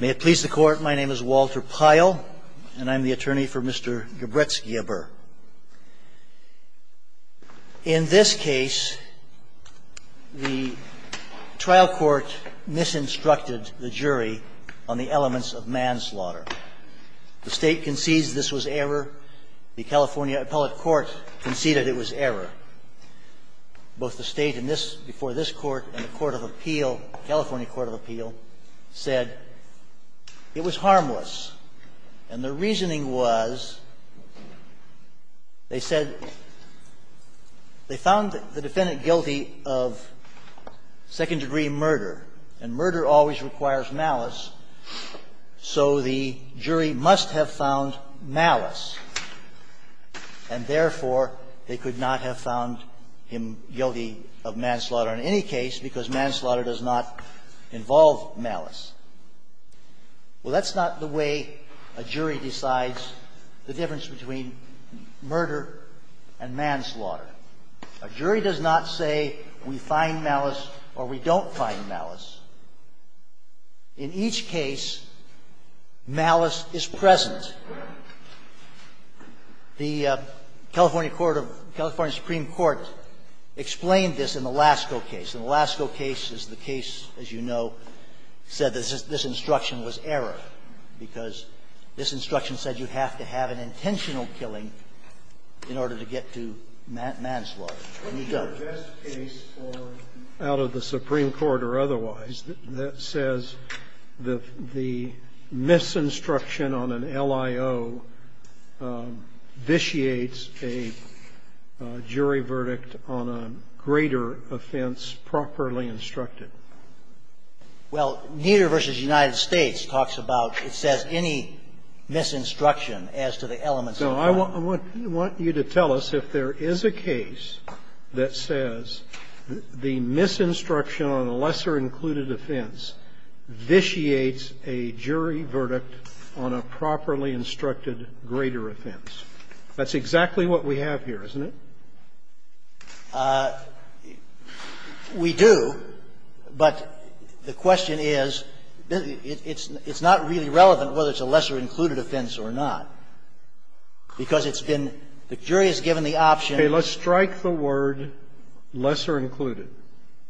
May it please the Court, my name is Walter Pyle, and I'm the attorney for Mr. Gebrezgiabher. In this case, the trial court misinstructed the jury on the elements of manslaughter. The State concedes this was error. The California Appellate Court conceded it was error. Both the State before this Court and the Court of Appeal, California Court of Appeal, said it was harmless, and the reasoning was, they said, they found the defendant guilty of second-degree murder, and murder always requires malice, so the jury must have found malice, and therefore, they could not have found the defendant guilty of manslaughter in any case, because manslaughter does not involve malice. Well, that's not the way a jury decides the difference between murder and manslaughter. A jury does not say we find malice or we don't find malice. In each case, malice is present. The California Supreme Court explained this in the Lasko case. The Lasko case is the case, as you know, said this instruction was error, because this instruction said you have to have an intentional killing in order to get to manslaughter. When you suggest a case out of the Supreme Court or otherwise that says the misinstruction on an LIO vitiates a jury verdict on a greater offense properly instructed? Well, Nieder v. United States talks about, it says, any misinstruction No, I want you to tell us if there is a case that says the misinstruction on a lesser-included offense vitiates a jury verdict on a properly instructed greater offense. That's exactly what we have here, isn't it? We do, but the question is, it's not really relevant whether it's a lesser-included offense or not, because it's been the jury has given the option Okay. Let's strike the word lesser-included.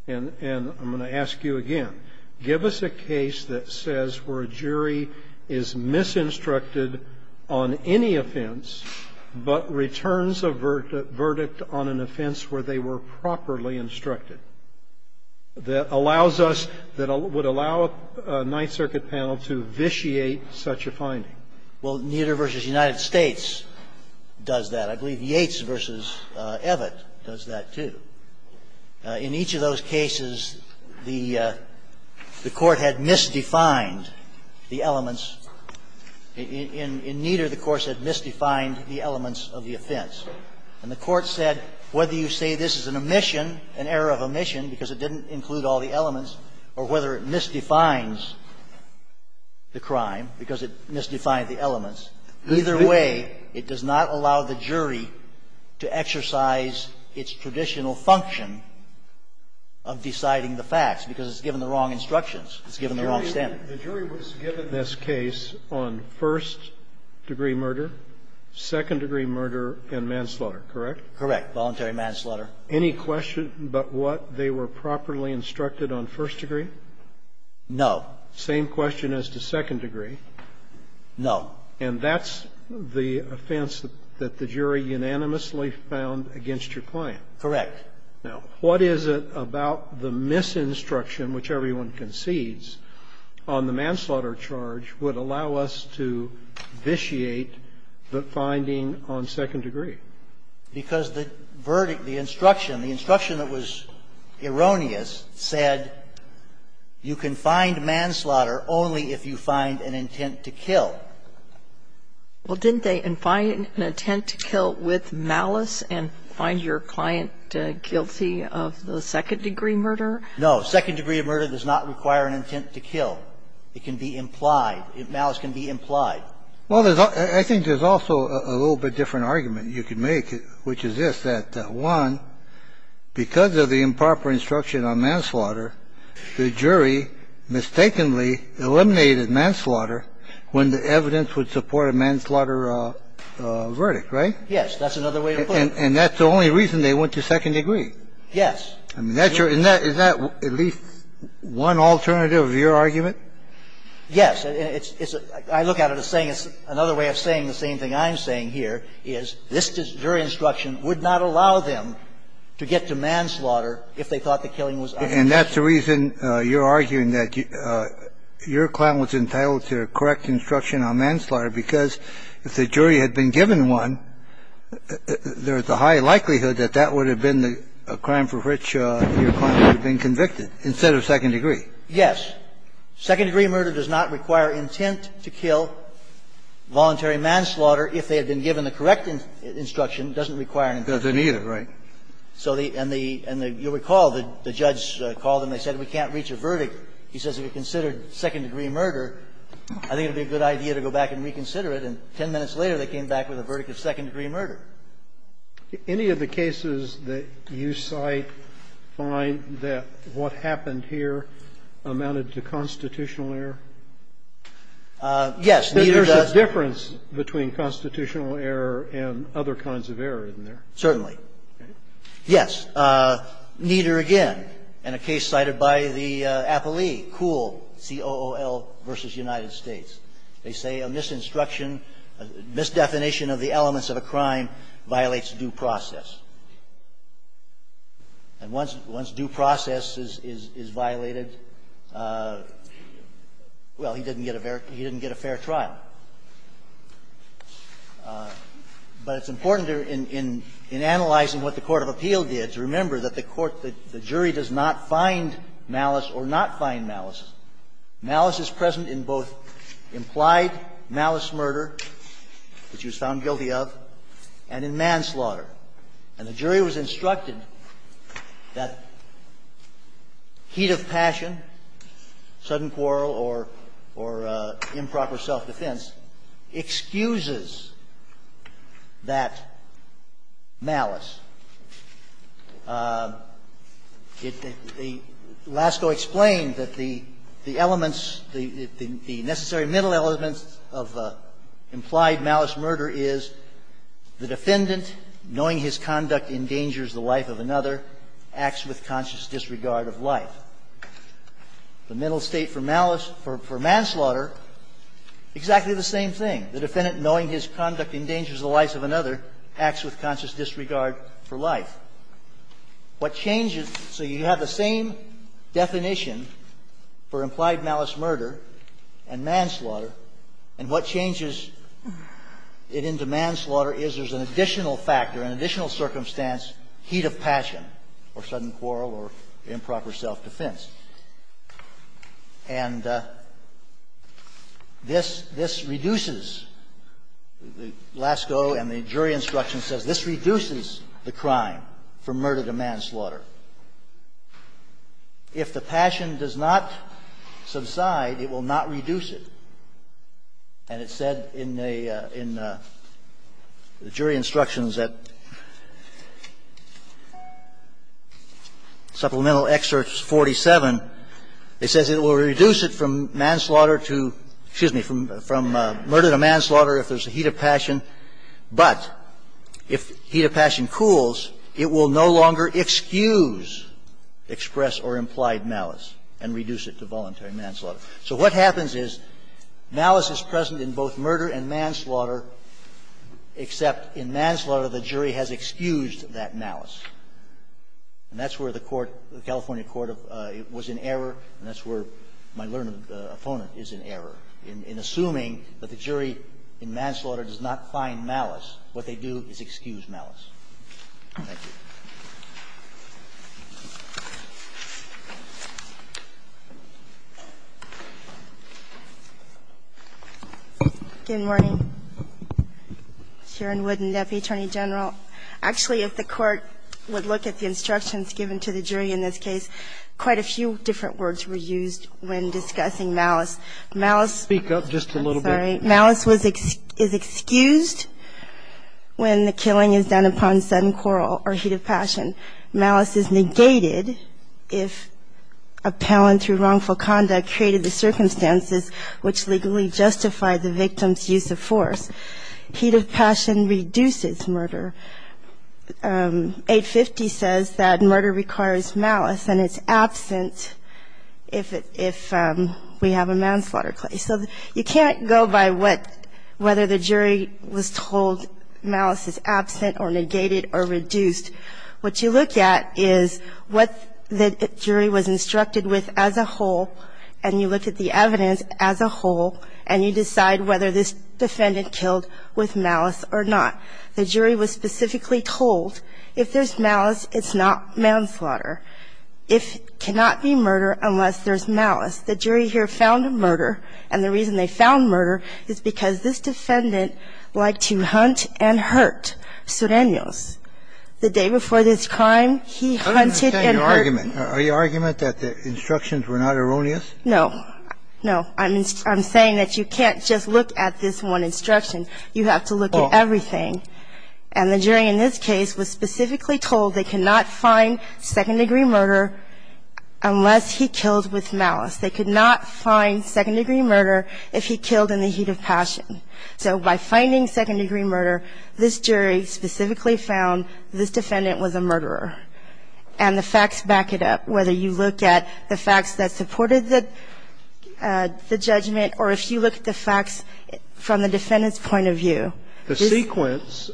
And I'm going to ask you again. Give us a case that says where a jury is misinstructed on any offense, but returns a verdict on an offense where they were properly instructed. That allows us, that would allow a Ninth Circuit panel to vitiate such a finding. Well, Nieder v. United States does that. I believe Yates v. Evatt does that, too. In each of those cases, the Court had misdefined the elements. In Nieder, the Court said, misdefined the elements of the offense. And the Court said, whether you say this is an omission, an error of omission because it didn't include all the elements, or whether it misdefines the crime because it misdefined the elements, either way, it does not allow the jury to exercise its traditional function of deciding the facts, because it's given the wrong instructions. It's given the wrong standard. The jury was given this case on first-degree murder, second-degree murder, and manslaughter. Correct? Correct. Voluntary manslaughter. Any question about what they were properly instructed on first-degree? No. Same question as to second-degree? No. And that's the offense that the jury unanimously found against your client? Correct. Now, what is it about the misinstruction, which everyone concedes, on the manslaughter charge would allow us to vitiate the finding on second-degree? Because the verdict, the instruction, the instruction that was erroneous said you can find manslaughter only if you find an intent to kill. Well, didn't they find an intent to kill with malice and find your client guilty of the second-degree murder? No. Second-degree murder does not require an intent to kill. It can be implied. Malice can be implied. Well, I think there's also a little bit different argument you could make, which is this, that, one, because of the improper instruction on manslaughter, the jury mistakenly eliminated manslaughter when the evidence would support a manslaughter verdict, right? Yes. That's another way of putting it. And that's the only reason they went to second-degree? Yes. I look at it as saying it's another way of saying the same thing I'm saying here is this jury instruction would not allow them to get to manslaughter if they thought the killing was unlawful. And that's the reason you're arguing that your client was entitled to a correct instruction on manslaughter, because if the jury had been given one, there's a high likelihood that that would have been the crime for which your client would have been convicted instead of second-degree. Yes. Second-degree murder does not require intent to kill. Voluntary manslaughter, if they had been given the correct instruction, doesn't require an intent. Doesn't either, right? So the – and the – and you'll recall the judge called and they said, we can't reach a verdict. He says if you considered second-degree murder, I think it would be a good idea to go back and reconsider it, and 10 minutes later they came back with a verdict of second-degree murder. Any of the cases that you cite find that what happened here amounted to constitutional error? Yes, neither does the other. There's a difference between constitutional error and other kinds of error, isn't there? Certainly. Yes. Neither again. In a case cited by the appellee, Kuhl, C-O-O-L v. United States, they say a misinstruction, a misdefinition of the elements of a crime violates due process. And once due process is violated, well, he didn't get a fair trial. But it's important in analyzing what the court of appeal did to remember that the court – the jury does not find malice or not find malice. Malice is present in both implied malice murder, which he was found guilty of, and in manslaughter. And the jury was instructed that heat of passion, sudden quarrel or improper self-defense excuses that malice. Lasko explained that the elements, the necessary middle elements of implied malice murder is the defendant, knowing his conduct endangers the life of another, acts with conscious disregard of life. The middle state for malice – for manslaughter, exactly the same thing. The defendant, knowing his conduct endangers the life of another, acts with conscious disregard for life. What changes – so you have the same definition for implied malice murder and manslaughter, and what changes it into manslaughter is there's an additional factor, an additional circumstance, heat of passion or sudden quarrel or improper self-defense. And this – this reduces – Lasko and the jury instruction says this reduces the crime for murder to manslaughter. If the passion does not subside, it will not reduce it. And it said in a – in the jury instructions that – Supplemental Excerpt 47, I believe, it says it will reduce it from manslaughter to – excuse me, from murder to manslaughter if there's a heat of passion, but if heat of passion cools, it will no longer excuse express or implied malice and reduce it to voluntary manslaughter. So what happens is malice is present in both murder and manslaughter, except in manslaughter the jury has excused that malice. And that's where the court – the California court was in error, and that's where my learned opponent is in error. In assuming that the jury in manslaughter does not find malice, what they do is excuse malice. Thank you. Good morning. Sharon Wooden, Deputy Attorney General. Actually, if the court would look at the instructions given to the jury in this case, quite a few different words were used when discussing malice. Malice – Speak up just a little bit. I'm sorry. Malice is excused when the killing is done upon sudden quarrel or heat of passion. Malice is negated if appellant through wrongful conduct created the circumstances which legally justify the victim's use of force. Heat of passion reduces murder. 850 says that murder requires malice, and it's absent if we have a manslaughter case. So you can't go by what – whether the jury was told malice is absent or negated or reduced. What you look at is what the jury was instructed with as a whole, and you look at the with malice or not. The jury was specifically told if there's malice, it's not manslaughter. If – cannot be murder unless there's malice. The jury here found murder, and the reason they found murder is because this defendant liked to hunt and hurt surrenors. The day before this crime, he hunted and – I don't understand your argument. Are you arguing that the instructions were not erroneous? No. No. I'm saying that you can't just look at this one instruction. You have to look at everything. And the jury in this case was specifically told they cannot find second-degree murder unless he killed with malice. They could not find second-degree murder if he killed in the heat of passion. So by finding second-degree murder, this jury specifically found this defendant was a murderer. And the facts back it up, whether you look at the facts that supported the judgment or if you look at the facts from the defendant's point of view. The sequence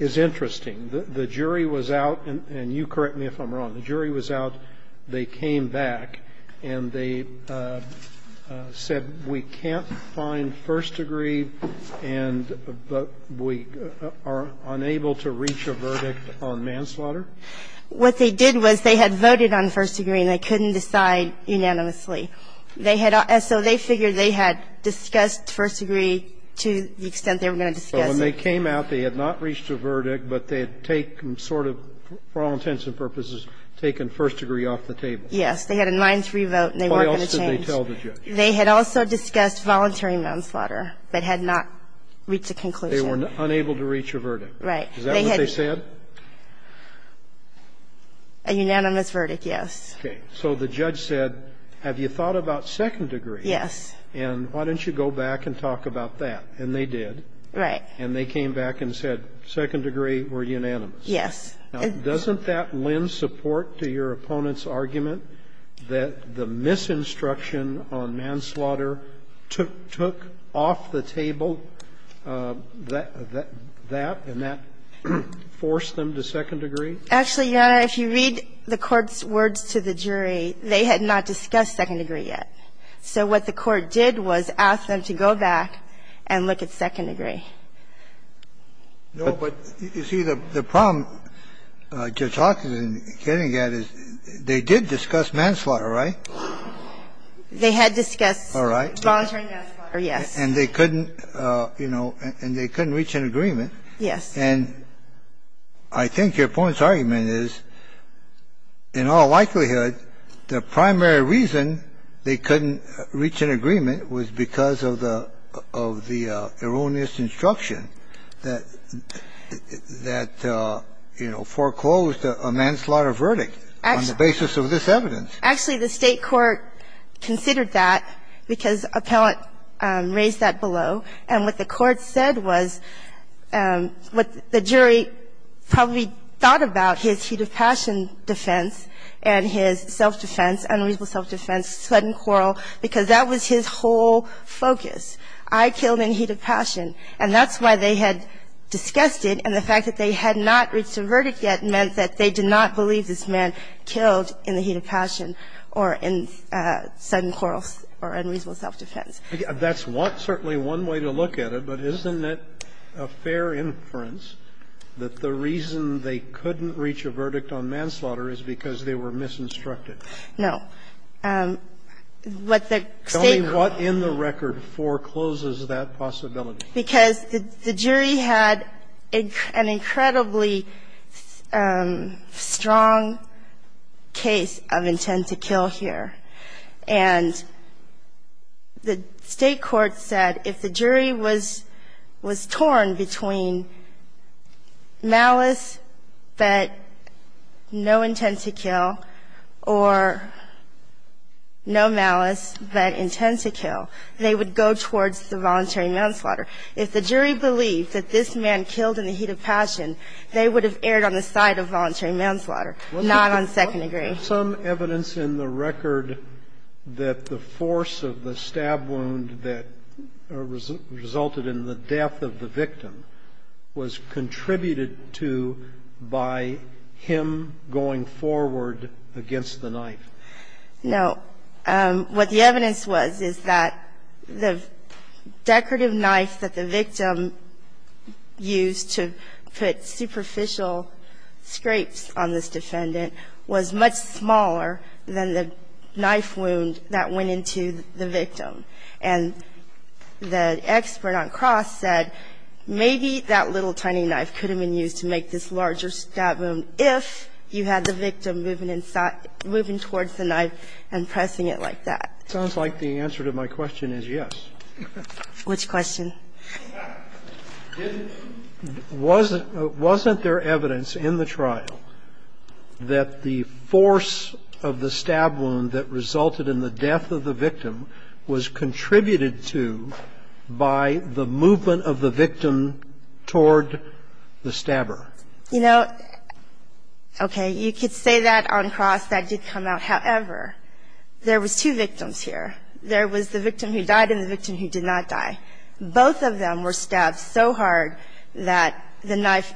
is interesting. The jury was out – and you correct me if I'm wrong. The jury was out, they came back, and they said we can't find first-degree murder until we have a second-degree, and we are unable to reach a verdict on manslaughter. What they did was they had voted on first-degree and they couldn't decide unanimously. They had – so they figured they had discussed first-degree to the extent they were going to discuss it. So when they came out, they had not reached a verdict, but they had taken, sort of for all intents and purposes, taken first-degree off the table. Yes. They had a 9-3 vote and they weren't going to change. Why else did they tell the judge? They had also discussed voluntary manslaughter, but had not reached a conclusion. They were unable to reach a verdict. Right. Is that what they said? A unanimous verdict, yes. Okay. So the judge said, have you thought about second-degree? Yes. And why don't you go back and talk about that? And they did. Right. And they came back and said second-degree were unanimous. Yes. Now, doesn't that lend support to your opponent's argument that the misinstruction on manslaughter took off the table that and that forced them to second-degree? Actually, Your Honor, if you read the Court's words to the jury, they had not discussed second-degree yet. So what the Court did was ask them to go back and look at second-degree. No, but you see, the problem Judge Hockett is getting at is they did discuss manslaughter, right? They had discussed voluntary manslaughter, yes. And they couldn't, you know, and they couldn't reach an agreement. Yes. And I think your opponent's argument is, in all likelihood, the primary reason they couldn't reach an agreement was because of the erroneous instructions that, you know, foreclosed a manslaughter verdict on the basis of this evidence. Actually, the State court considered that because appellant raised that below. And what the Court said was what the jury probably thought about, his heat of passion defense and his self-defense, unreasonable self-defense, sudden quarrel, because that was his whole focus. I killed in heat of passion, and that's why they had discussed it. And the fact that they had not reached a verdict yet meant that they did not believe this man killed in the heat of passion or in sudden quarrels or unreasonable self-defense. That's one – certainly one way to look at it, but isn't it a fair inference that the reason they couldn't reach a verdict on manslaughter is because they were misinstructed? No. What the State court – What in the record forecloses that possibility? Because the jury had an incredibly strong case of intent to kill here. And the State court said if the jury was torn between malice but no intent to kill or no malice but intent to kill, they would go towards the voluntary manslaughter. If the jury believed that this man killed in the heat of passion, they would have erred on the side of voluntary manslaughter, not on second degree. Some evidence in the record that the force of the stab wound that resulted in the death of the victim was contributed to by him going forward against the knife. No. What the evidence was is that the decorative knife that the victim used to put superficial scrapes on this defendant was much smaller than the knife wound that went into the victim. And the expert on Cross said maybe that little tiny knife could have been used to make this larger stab wound if you had the victim moving towards the knife and pressing it like that. It sounds like the answer to my question is yes. Which question? Wasn't there evidence in the trial that the force of the stab wound that resulted in the death of the victim was contributed to by the movement of the victim toward the stabber? You know, okay, you could say that on Cross. That did come out. However, there was two victims here. There was the victim who died and the victim who did not die. Both of them were stabbed so hard that the knife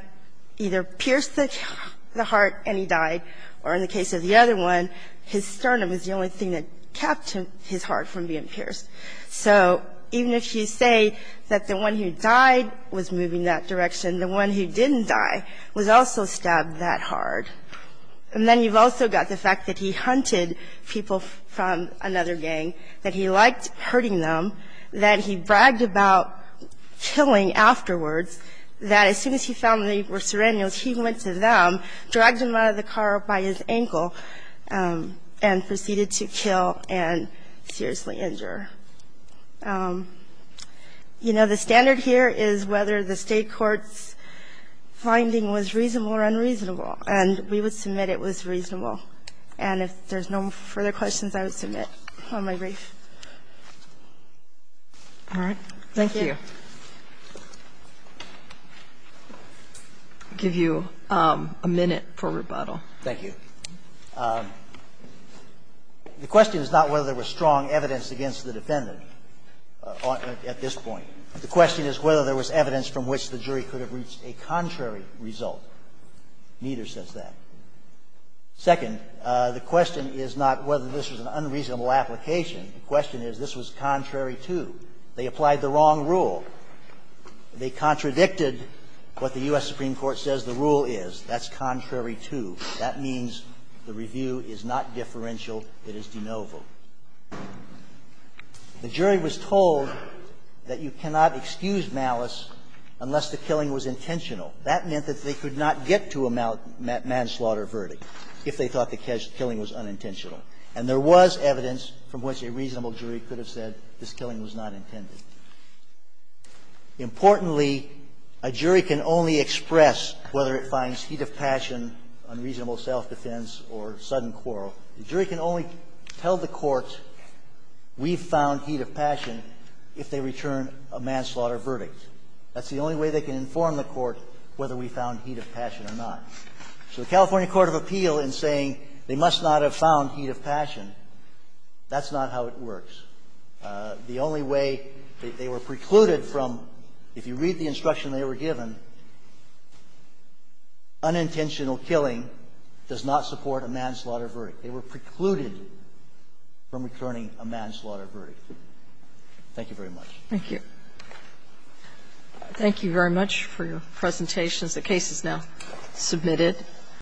either pierced the heart and he died, or in the case of the other one, his sternum was the only thing that kept his heart from being pierced. So even if you say that the one who died was moving that direction, the one who didn't die was also stabbed that hard. And then you've also got the fact that he hunted people from another gang, that he liked hurting them, that he bragged about killing afterwards, that as soon as he found they by his ankle and proceeded to kill and seriously injure. You know, the standard here is whether the state court's finding was reasonable or unreasonable. And we would submit it was reasonable. And if there's no further questions, I would submit on my brief. All right. Thank you. I'll give you a minute for rebuttal. Thank you. The question is not whether there was strong evidence against the defendant at this point. The question is whether there was evidence from which the jury could have reached a contrary result. Neither says that. Second, the question is not whether this was an unreasonable application. The question is this was contrary to. They applied the wrong rule. They contradicted what the U.S. Supreme Court says the rule is. That's contrary to. That means the review is not differential. It is de novo. The jury was told that you cannot excuse malice unless the killing was intentional. That meant that they could not get to a manslaughter verdict if they thought the killing was unintentional. And there was evidence from which a reasonable jury could have said this killing was not intended. Importantly, a jury can only express whether it finds heat of passion, unreasonable self-defense, or sudden quarrel. The jury can only tell the court we found heat of passion if they return a manslaughter verdict. That's the only way they can inform the court whether we found heat of passion or not. So the California Court of Appeal in saying they must not have found heat of passion, that's not how it works. The only way they were precluded from, if you read the instruction they were given, unintentional killing does not support a manslaughter verdict. They were precluded from returning a manslaughter verdict. Thank you very much. Thank you. Thank you very much for your presentations. The case is now submitted.